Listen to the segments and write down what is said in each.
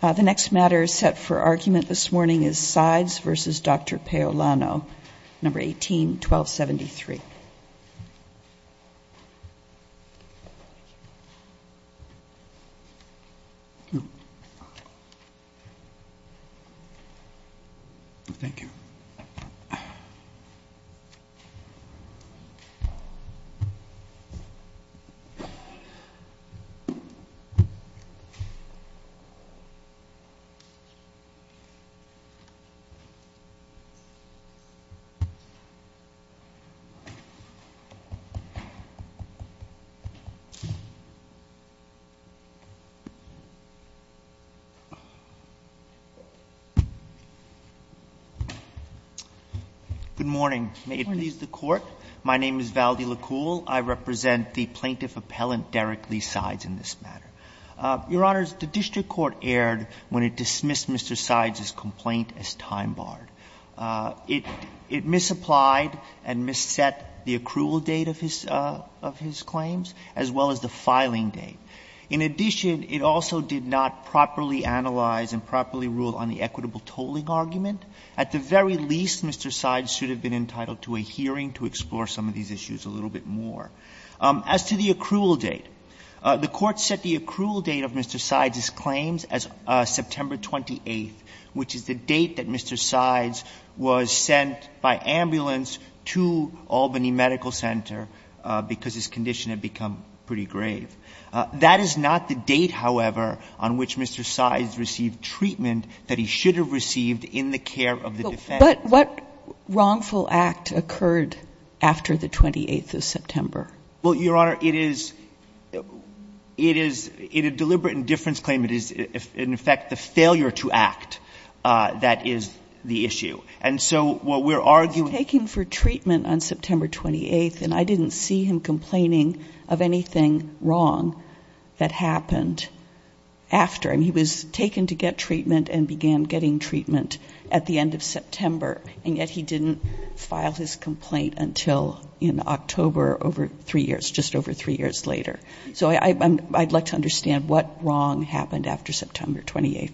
Sides v. Paolano 18-1273 Good morning. May it please the Court? My name is Valdi Likul. I represent the plaintiff at the time of this hearing, and I'm here to discuss the case of Mr. Sides v. Paolano Mr. Sides' complaint was dismissed as time-barred. It misapplied and misset the accrual date of his claims as well as the filing date. In addition, it also did not properly analyze and properly rule on the equitable date of his claims as well as September 28th, which is the date that Mr. Sides was sent by ambulance to Albany Medical Center because his condition had become pretty grave. That is not the date, however, on which Mr. Sides received treatment that he should have received in the care of the defense. But what wrongful act occurred after the 28th of September? Well, Your Honor, it is — it is — in a deliberate indifference claim, it is, in effect, the failure to act that is the issue. And so what we're arguing — He was taken for treatment on September 28th, and I didn't see him complaining of anything wrong that happened after. I mean, he was taken to get treatment and began getting treatment at the end of September, and yet he didn't file his claim for three years, just over three years later. So I'd like to understand what wrong happened after September 28th.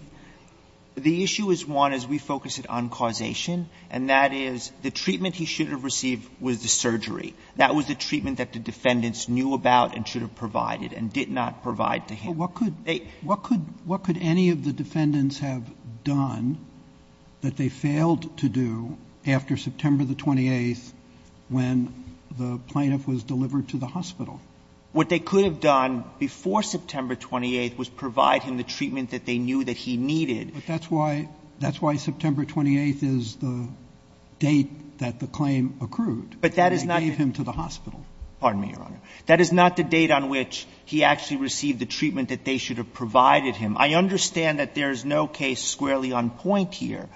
The issue is one, as we focus it, on causation, and that is the treatment he should have received was the surgery. That was the treatment that the defendants knew about and should have provided and did not provide to him. But what could — what could any of the defendants have done that they failed to do after September the 28th when the plaintiff was delivered to the hospital? What they could have done before September 28th was provide him the treatment that they knew that he needed. But that's why — that's why September 28th is the date that the claim accrued. But that is not the — And they gave him to the hospital. Pardon me, Your Honor. That is not the date on which he actually received the treatment that they should have provided him. I understand that there is no case squarely on point here.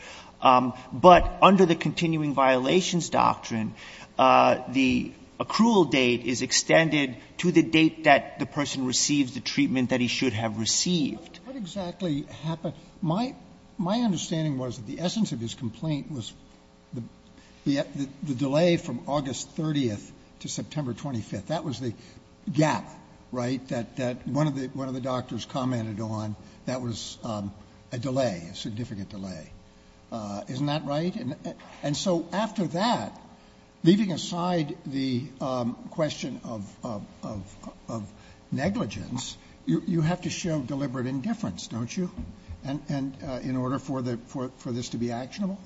But under the continuing violations doctrine, the accrual date is extended to the date that the person receives the treatment that he should have received. What exactly happened? My understanding was that the essence of his complaint was the delay from August 30th to September 25th. That was the gap, right, that one of the doctors commented on. That was a delay, a significant delay. Isn't that right? And so after that, leaving aside the question of negligence, you have to show deliberate indifference, don't you, in order for the — for this to be actionable?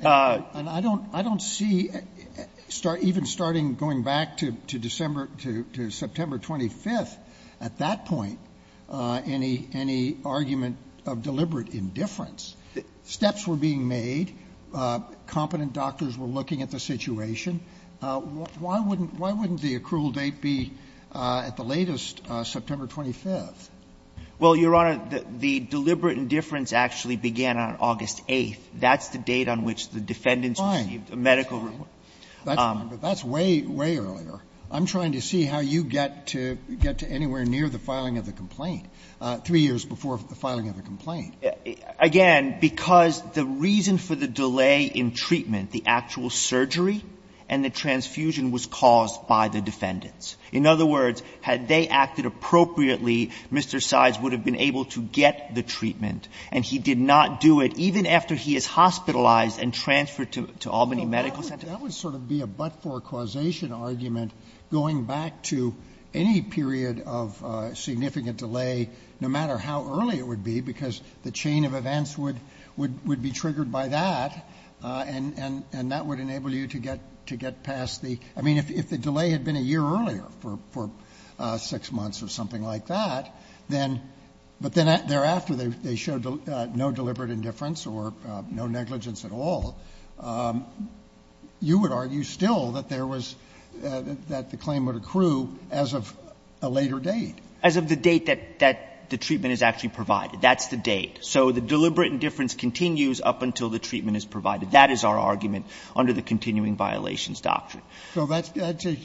And I don't — I don't see even starting — going back to December — to September 25th, at that point, any — any argument of deliberate indifference. Steps were being made. Competent doctors were looking at the situation. Why wouldn't — why wouldn't the accrual date be at the latest, September 25th? Well, Your Honor, the deliberate indifference actually began on August 8th. That's the date on which the defendants received the medical report. That's fine. That's fine. But that's way, way earlier. I'm trying to see how you get to — get to anywhere near the filing of the complaint, three years before the filing of the complaint. Again, because the reason for the delay in treatment, the actual surgery and the transfusion was caused by the defendants. In other words, had they acted appropriately, Mr. Sides would have been able to get the treatment, and he did not do it, even after he is hospitalized and transferred to Albany Medical Center. That would sort of be a but-for-causation argument, going back to any period of significant delay, no matter how early it would be, because the chain of events would — would be triggered by that, and that would enable you to get — to get past the — I mean, if the delay had been a year earlier, for six months or something like that, then — but then thereafter, they — they showed no deliberate indifference or no negligence at all, you would argue still that there was — that the claim would accrue as of a later date. As of the date that — that the treatment is actually provided. That's the date. So the deliberate indifference continues up until the treatment is provided. That is our argument under the continuing violations doctrine. So that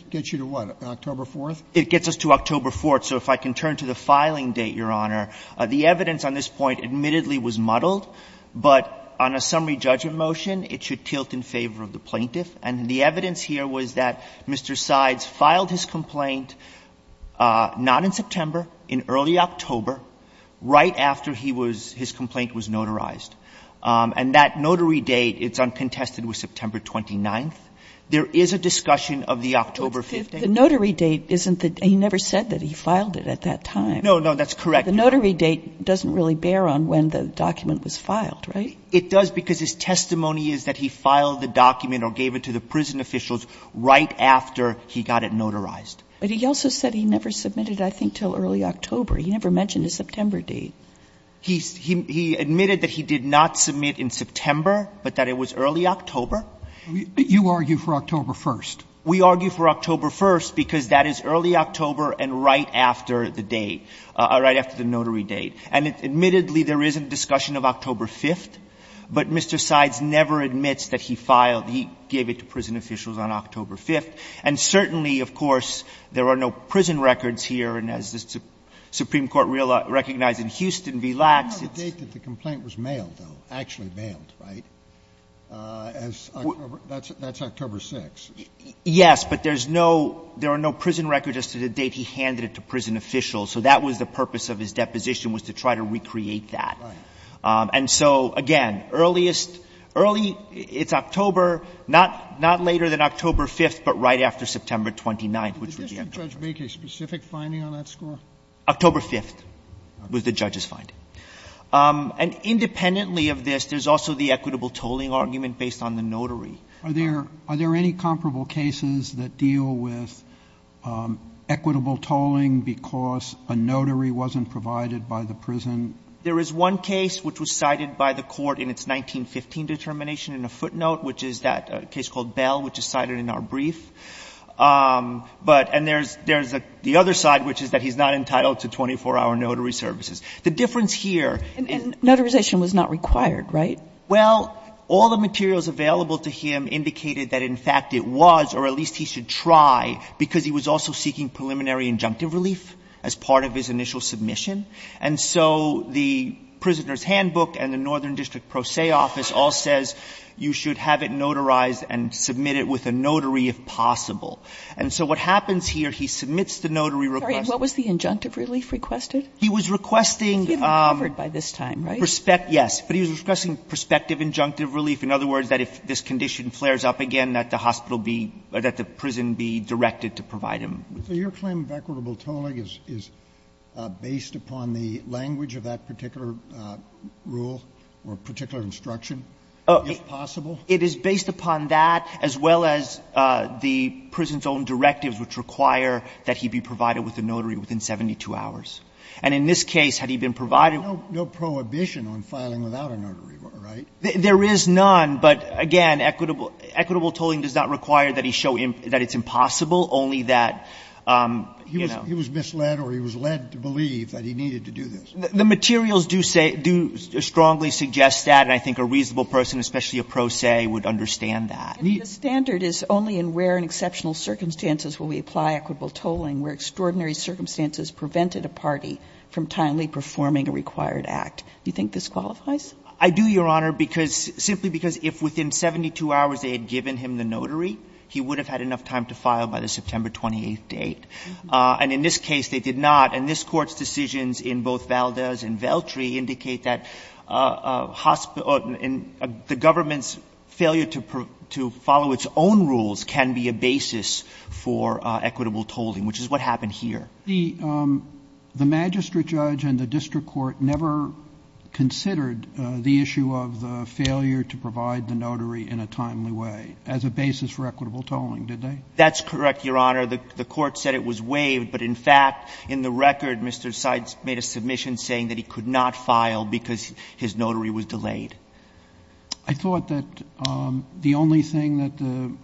gets you to what? October 4th? It gets us to October 4th. So if I can turn to the filing date, Your Honor. The evidence on this point admittedly was muddled, but on a summary judgment motion, it should tilt in favor of the plaintiff. And the evidence here was that Mr. Sides filed his complaint not in September, in early October, right after he was — his complaint was notarized. And that notary date, it's uncontested with September 29th. There is a discussion of the October 15th. But the notary date isn't the — he never said that he filed it at that time. No, no, that's correct. The notary date doesn't really bear on when the document was filed, right? It does because his testimony is that he filed the document or gave it to the prison officials right after he got it notarized. But he also said he never submitted it, I think, until early October. He never mentioned a September date. He — he admitted that he did not submit in September, but that it was early October. You argue for October 1st. We argue for October 1st because that is early October and right after the date, right after the notary date. And admittedly, there is a discussion of October 5th. But Mr. Sides never admits that he filed. He gave it to prison officials on October 5th. And certainly, of course, there are no prison records here. And as the Supreme Court recognized in Houston v. Lax, it's — The date that the complaint was mailed, though, actually mailed, right, as — that's October 6th. Yes, but there's no — there are no prison records as to the date he handed it to prison officials. So that was the purpose of his deposition, was to try to recreate that. Right. And so, again, earliest — early — it's October, not — not later than October 5th, but right after September 29th, which would be October 5th. Did the district judge make a specific finding on that score? October 5th was the judge's finding. And independently of this, there's also the equitable tolling argument based on the — are there any comparable cases that deal with equitable tolling because a notary wasn't provided by the prison? There is one case which was cited by the court in its 1915 determination in a footnote, which is that — a case called Bell, which is cited in our brief. But — and there's — there's the other side, which is that he's not entitled to 24-hour notary services. The difference here — And notarization was not required, right? Well, all the materials available to him indicated that, in fact, it was, or at least he should try, because he was also seeking preliminary injunctive relief as part of his initial submission. And so the Prisoner's Handbook and the Northern District Pro Se office all says you should have it notarized and submit it with a notary if possible. And so what happens here, he submits the notary request. Sorry. What was the injunctive relief requested? He was requesting — He'd been covered by this time, right? Yes. But he was requesting prospective injunctive relief. In other words, that if this condition flares up again, that the hospital be — that the prison be directed to provide him. So your claim of equitable tolling is based upon the language of that particular rule or particular instruction, if possible? It is based upon that, as well as the prison's own directives, which require that he be provided with a notary within 72 hours. And in this case, had he been provided — There's no prohibition on filing without a notary, right? There is none. But, again, equitable tolling does not require that he show that it's impossible, only that, you know — He was misled or he was led to believe that he needed to do this. The materials do say — do strongly suggest that. And I think a reasonable person, especially a pro se, would understand that. The standard is only in rare and exceptional circumstances will we apply equitable tolling where extraordinary circumstances prevented a party from timely performing a required act. Do you think this qualifies? I do, Your Honor, because — simply because if within 72 hours they had given him the notary, he would have had enough time to file by the September 28th date. And in this case, they did not. And this Court's decisions in both Valdez and Veltri indicate that the government's failure to follow its own rules can be a basis for equitable tolling, which is what happened here. The magistrate judge and the district court never considered the issue of the failure to provide the notary in a timely way as a basis for equitable tolling, did they? That's correct, Your Honor. The Court said it was waived. But, in fact, in the record, Mr. Seitz made a submission saying that he could not file because his notary was delayed. I thought that the only thing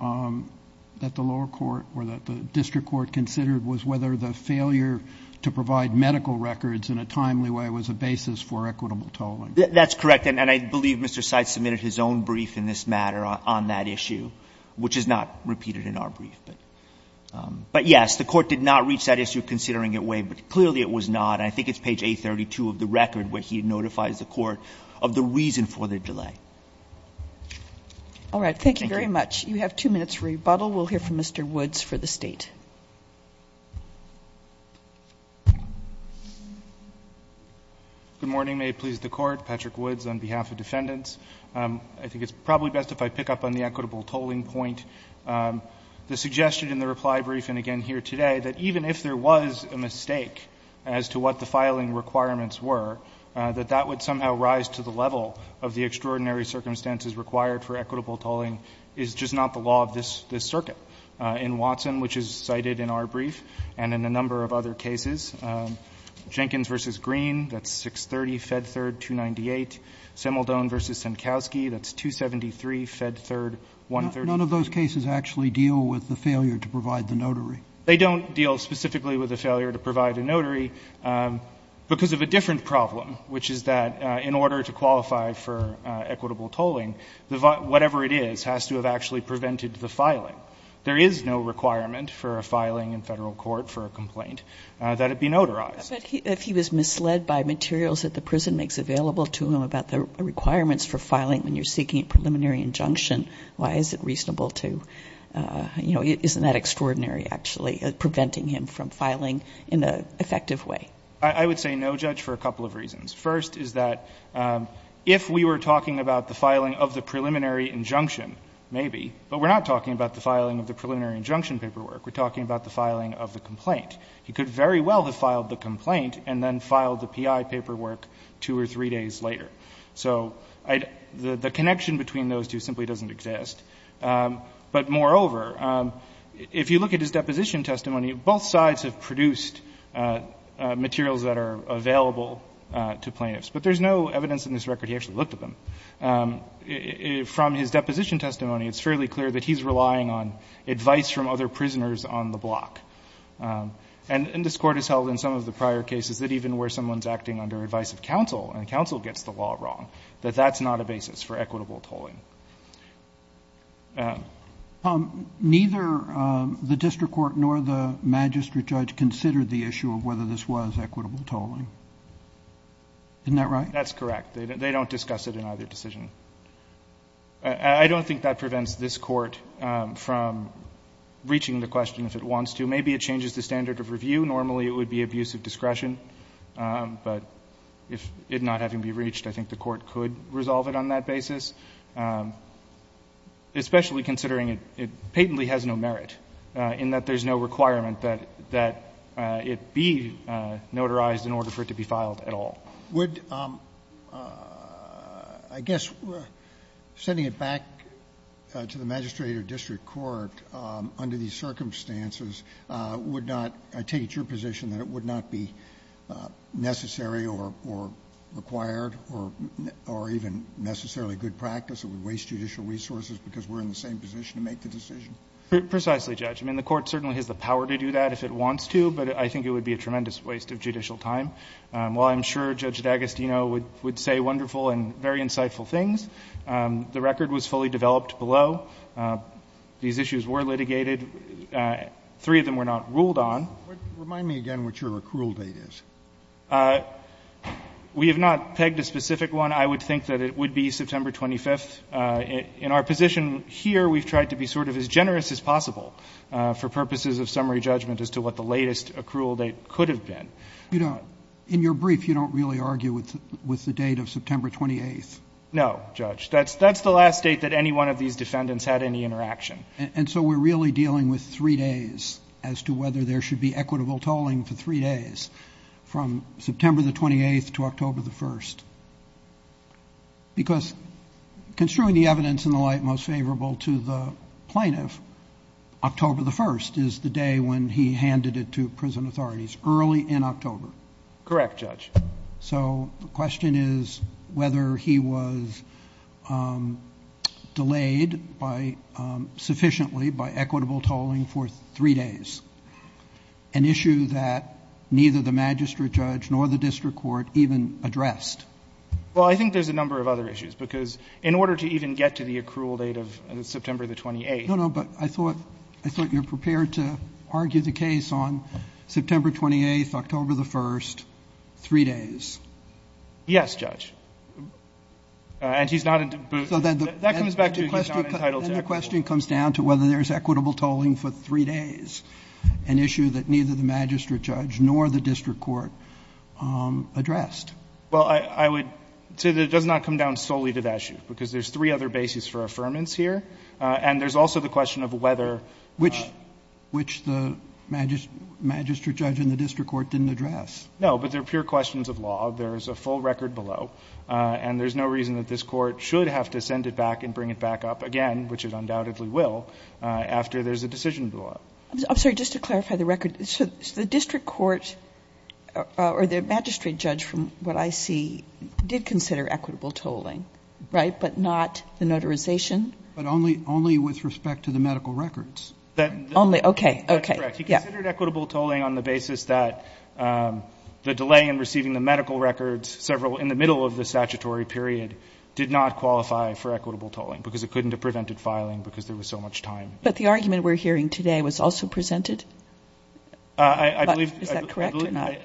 that the lower court or that the district court considered was whether the failure to provide medical records in a timely way was a basis for equitable tolling. That's correct. And I believe Mr. Seitz submitted his own brief in this matter on that issue, which is not repeated in our brief. But, yes, the Court did not reach that issue considering it waived, but clearly it was not. And I think it's page 832 of the record where he notifies the Court of the reason for the delay. All right. Thank you very much. You have two minutes for rebuttal. We'll hear from Mr. Woods for the State. Good morning. May it please the Court. Patrick Woods on behalf of defendants. I think it's probably best if I pick up on the equitable tolling point. The suggestion in the reply brief, and again here today, that even if there was a mistake as to what the filing requirements were, that that would somehow rise to the level of the extraordinary circumstances required for equitable tolling is just not the law of this circuit. In Watson, which is cited in our brief, and in a number of other cases, Jenkins v. Green, that's 630 Fed Third 298. Simildon v. Senkowski, that's 273 Fed Third 138. None of those cases actually deal with the failure to provide the notary. They don't deal specifically with the failure to provide a notary because of a different problem, which is that in order to qualify for equitable tolling, whatever it is has to have actually prevented the filing. There is no requirement for a filing in Federal court for a complaint that it be notarized. But if he was misled by materials that the prison makes available to him about the requirements for filing when you're seeking a preliminary injunction, why is it reasonable to, you know, isn't that extraordinary actually, preventing him from filing in an effective way? I would say no, Judge, for a couple of reasons. First is that if we were talking about the filing of the preliminary injunction, maybe, but we're not talking about the filing of the preliminary injunction paperwork. We're talking about the filing of the complaint. He could very well have filed the complaint and then filed the PI paperwork two or three days later. So the connection between those two simply doesn't exist. But moreover, if you look at his deposition testimony, both sides have produced materials that are available to plaintiffs, but there's no evidence in this record he actually looked at them. From his deposition testimony, it's fairly clear that he's relying on advice from other prisoners on the block. And this Court has held in some of the prior cases that even where someone's acting under advice of counsel and counsel gets the law wrong, that that's not a basis for equitable tolling. Roberts. Neither the district court nor the magistrate judge considered the issue of whether this was equitable tolling. Isn't that right? That's correct. They don't discuss it in either decision. I don't think that prevents this Court from reaching the question if it wants to. Maybe it changes the standard of review. Normally, it would be abuse of discretion. But if it not having been reached, I think the Court could resolve it on that basis, especially considering it patently has no merit, in that there's no requirement that it be notarized in order for it to be filed at all. Would, I guess, sending it back to the magistrate or district court under these conditions, would it be your position that it would not be necessary or required or even necessarily good practice? It would waste judicial resources because we're in the same position to make the decision. Precisely, Judge. I mean, the Court certainly has the power to do that if it wants to, but I think it would be a tremendous waste of judicial time. While I'm sure Judge D'Agostino would say wonderful and very insightful things, the record was fully developed below. These issues were litigated. Three of them were not ruled on. Remind me again what your accrual date is. We have not pegged a specific one. I would think that it would be September 25th. In our position here, we've tried to be sort of as generous as possible for purposes of summary judgment as to what the latest accrual date could have been. You know, in your brief, you don't really argue with the date of September 28th. No, Judge. That's the last date that any one of these defendants had any interaction. And so we're really dealing with three days as to whether there should be equitable tolling for three days from September 28th to October 1st, because construing the evidence in the light most favorable to the plaintiff, October 1st is the day when he handed it to prison authorities, early in October. Correct, Judge. So the question is whether he was delayed by sufficiently by equitable tolling for three days, an issue that neither the magistrate judge nor the district court even addressed. Well, I think there's a number of other issues, because in order to even get to the accrual date of September 28th. No, no, but I thought you were prepared to argue the case on September 28th, October 1st, three days. Yes, Judge. And he's not entitled to equitable tolling. So then the question comes down to whether there's equitable tolling for three days, an issue that neither the magistrate judge nor the district court addressed. Well, I would say that it does not come down solely to that issue, because there's three other bases for affirmance here. And there's also the question of whether. Which the magistrate judge and the district court didn't address. No, but they're pure questions of law. There's a full record below. And there's no reason that this Court should have to send it back and bring it back up again, which it undoubtedly will, after there's a decision below it. I'm sorry. Just to clarify the record. So the district court or the magistrate judge, from what I see, did consider equitable tolling, right, but not the notarization? But only with respect to the medical records. Only, okay, okay. That's correct. He considered equitable tolling on the basis that the delay in receiving the medical records, several in the middle of the statutory period, did not qualify for equitable tolling, because it couldn't have prevented filing, because there was so much time. But the argument we're hearing today was also presented? I believe. Is that correct or not?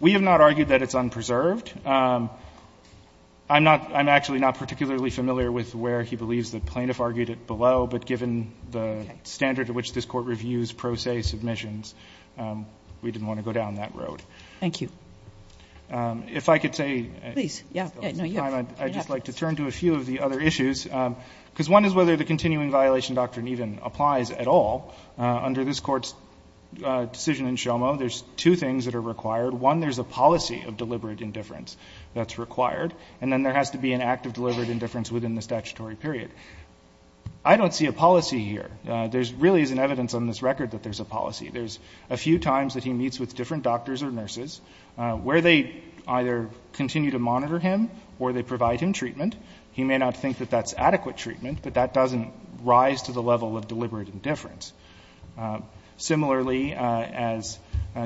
We have not argued that it's unpreserved. I'm not, I'm actually not particularly familiar with where he believes the plaintiff argued it below, but given the standard at which this Court reviews pro se submissions, we didn't want to go down that road. Thank you. If I could say. Please. I'd just like to turn to a few of the other issues, because one is whether the continuing violation doctrine even applies at all. Under this Court's decision in Shomo, there's two things that are required. One, there's a policy of deliberate indifference that's required, and then there has to be an act of deliberate indifference within the statutory period. I don't see a policy here. There really isn't evidence on this record that there's a policy. There's a few times that he meets with different doctors or nurses where they either continue to monitor him or they provide him treatment. He may not think that that's adequate treatment, but that doesn't rise to the level of deliberate indifference. Similarly, as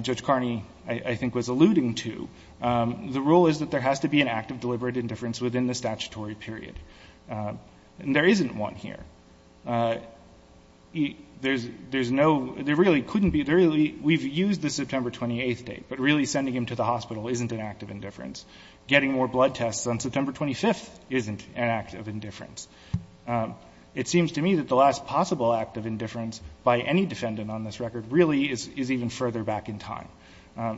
Judge Carney, I think, was alluding to, the rule is that there has to be an act of deliberate indifference within the statutory period. And there isn't one here. There's no – there really couldn't be. We've used the September 28th date, but really sending him to the hospital isn't an act of indifference. Getting more blood tests on September 25th isn't an act of indifference. It seems to me that the last possible act of indifference by any defendant on this record really is even further back in time.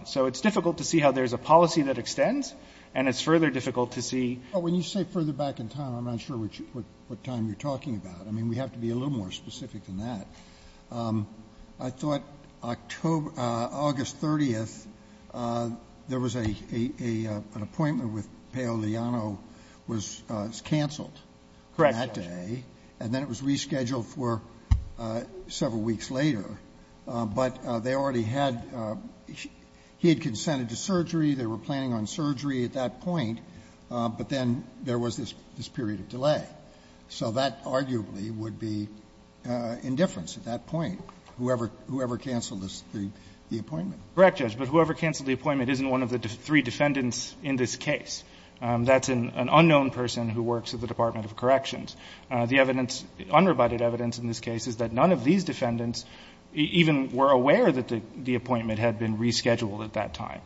So it's difficult to see how there's a policy that extends, and it's further difficult to see. Roberts. When you say further back in time, I'm not sure what time you're talking about. I mean, we have to be a little more specific than that. I thought August 30th, there was an appointment with Paolo Liano was canceled. Correct, Judge. And then it was rescheduled for several weeks later. But they already had – he had consented to surgery. They were planning on surgery at that point. But then there was this period of delay. So that arguably would be indifference at that point, whoever canceled the appointment. Correct, Judge. But whoever canceled the appointment isn't one of the three defendants in this case. That's an unknown person who works at the Department of Corrections. The evidence, unrebutted evidence in this case is that none of these defendants even were aware that the appointment had been rescheduled at that time.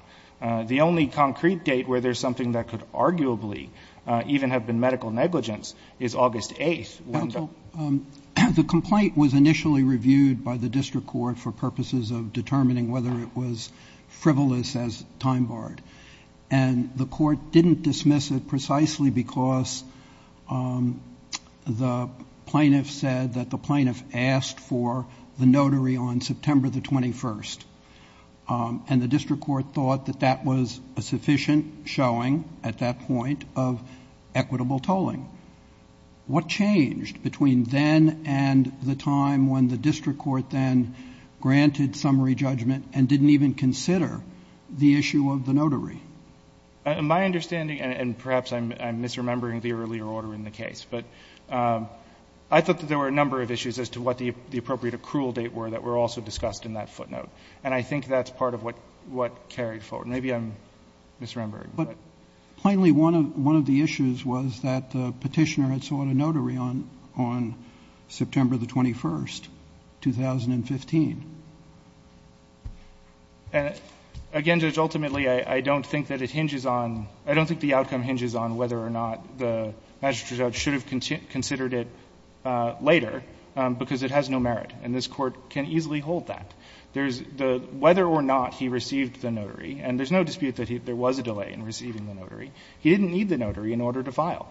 The only concrete date where there's something that could arguably even have been medical negligence is August 8th. The complaint was initially reviewed by the district court for purposes of determining whether it was frivolous as time barred. And the court didn't dismiss it precisely because the plaintiff said that the plaintiff asked for the notary on September the 21st. And the district court thought that that was a sufficient showing at that point of equitable tolling. What changed between then and the time when the district court then granted summary judgment and didn't even consider the issue of the notary? My understanding, and perhaps I'm misremembering the earlier order in the case, but I thought that there were a number of issues as to what the appropriate accrual date were that were also discussed in that footnote. And I think that's part of what carried forward. Maybe I'm misremembering. But plainly one of the issues was that the Petitioner had sought a notary on September the 21st, 2015. And again, Judge, ultimately, I don't think that it hinges on, I don't think the outcome hinges on whether or not the magistrate judge should have considered it later because it has no merit, and this Court can easily hold that. Whether or not he received the notary, and there's no dispute that there was a delay in receiving the notary, he didn't need the notary in order to file.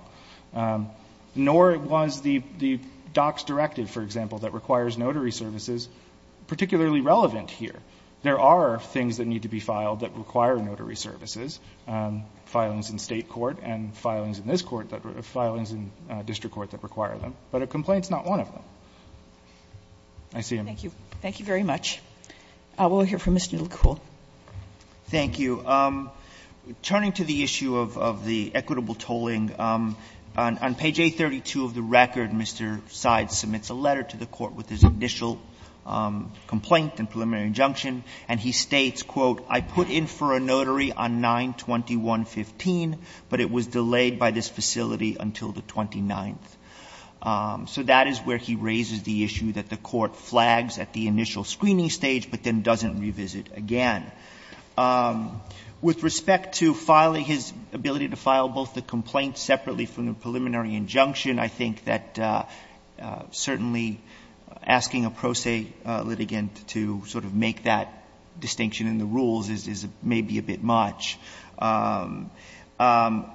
Nor was the DOCS directive, for example, that requires notary services particularly relevant here. There are things that need to be filed that require notary services, filings in State court and filings in this court, filings in district court that require them. But a complaint is not one of them. I see you. Sotomayor. Thank you. Thank you very much. We'll hear from Ms. Newell-Coole. Thank you. Turning to the issue of the equitable tolling, on page 832 of the record, Mr. Syed submits a letter to the Court with his initial complaint and preliminary injunction, and he states, quote, ''I put in for a notary on 9-21-15, but it was delayed by this facility until the 29th.'' So that is where he raises the issue that the Court flags at the initial screening stage but then doesn't revisit again. With respect to filing, his ability to file both the complaint separately from the preliminary injunction, I think that certainly asking a pro se litigant to sort of make that distinction in the rules is maybe a bit much.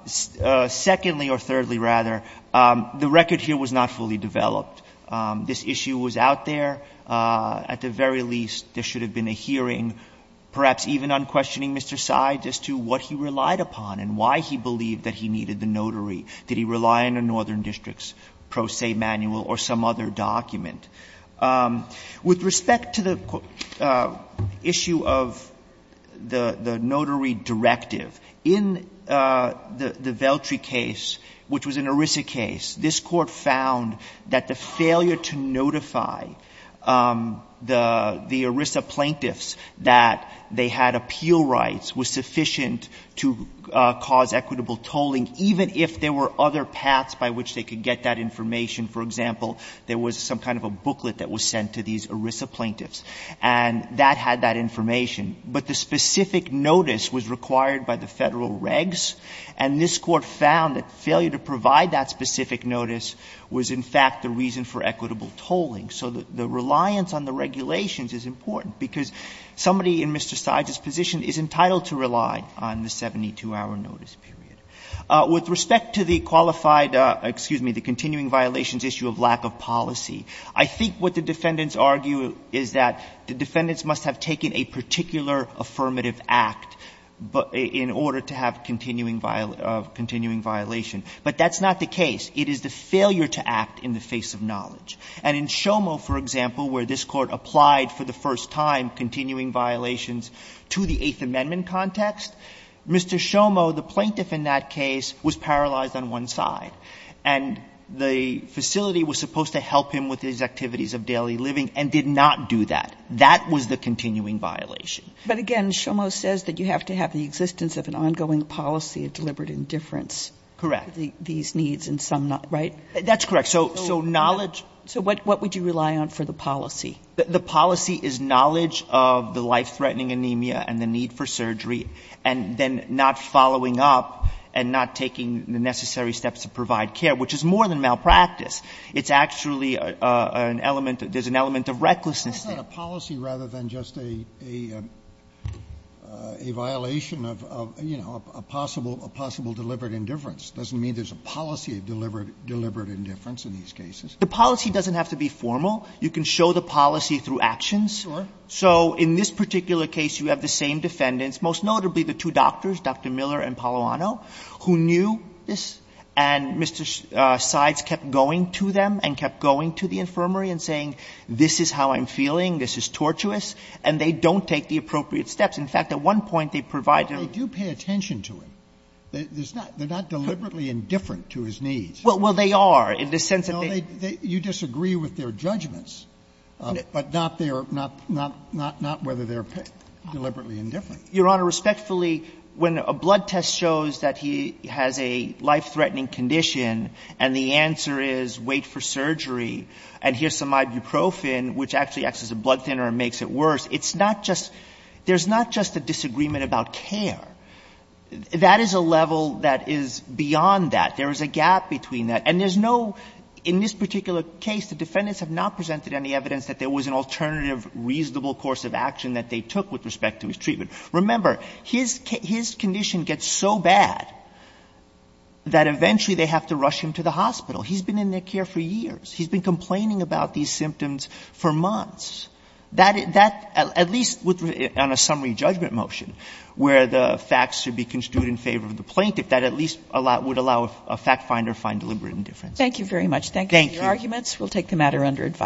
Secondly, or thirdly rather, the record here was not fully developed. This issue was out there. At the very least, there should have been a hearing, perhaps even unquestioning Mr. Syed as to what he relied upon and why he believed that he needed the notary. Did he rely on a northern district's pro se manual or some other document? With respect to the issue of the notary directive, in the Veltri case, which was an example, there was some kind of a booklet that was sent to these ERISA plaintiffs and that had that information. But the specific notice was required by the Federal regs, and this Court found that failure to provide that specific notice was, in fact, the reason for equitable tolling. So the reliance on the regulations is important, because somebody in Mr. Syed's position is entitled to rely on the 72-hour notice period. With respect to the qualified, excuse me, the continuing violations issue of lack of policy, I think what the defendants argue is that the defendants must have taken a particular affirmative act in order to have continuing violation. But that's not the case. It is the failure to act in the face of knowledge. And in Shomo, for example, where this Court applied for the first time continuing violations to the Eighth Amendment context, Mr. Shomo, the plaintiff in that case, was paralyzed on one side. And the facility was supposed to help him with his activities of daily living and did not do that. That was the continuing violation. But again, Shomo says that you have to have the existence of an ongoing policy of deliberate indifference. Correct. These needs and some not, right? That's correct. So knowledge So what would you rely on for the policy? The policy is knowledge of the life-threatening anemia and the need for surgery and then not following up and not taking the necessary steps to provide care, which is more than malpractice. It's actually an element, there's an element of recklessness there. Well, it's not a policy rather than just a violation of, you know, a possible deliberate indifference. Doesn't mean there's a policy of deliberate indifference in these cases. The policy doesn't have to be formal. You can show the policy through actions. Sure. So in this particular case, you have the same defendants, most notably the two doctors, Dr. Miller and Paloano, who knew this and Mr. Seitz kept going to them and kept going to the infirmary and saying, this is how I'm feeling, this is tortuous, and they don't take the appropriate steps. In fact, at one point, they provided them. But they do pay attention to him. They're not deliberately indifferent to his needs. Well, they are, in the sense that they are. No, you disagree with their judgments, but not whether they're deliberately indifferent. Your Honor, respectfully, when a blood test shows that he has a life-threatening condition and the answer is wait for surgery and here's some ibuprofen, which actually acts as a blood thinner and makes it worse, it's not just – there's not just a disagreement about care. That is a level that is beyond that. There is a gap between that. And there's no – in this particular case, the defendants have not presented any evidence that there was an alternative reasonable course of action that they took with respect to his treatment. Remember, his condition gets so bad that eventually they have to rush him to the hospital. He's been in their care for years. He's been complaining about these symptoms for months. That, at least on a summary judgment motion, where the facts should be construed in favor of the plaintiff, that at least would allow a fact finder to find deliberate indifference. Thank you very much. Thank you. Thank you for your arguments. We'll take the matter under advice.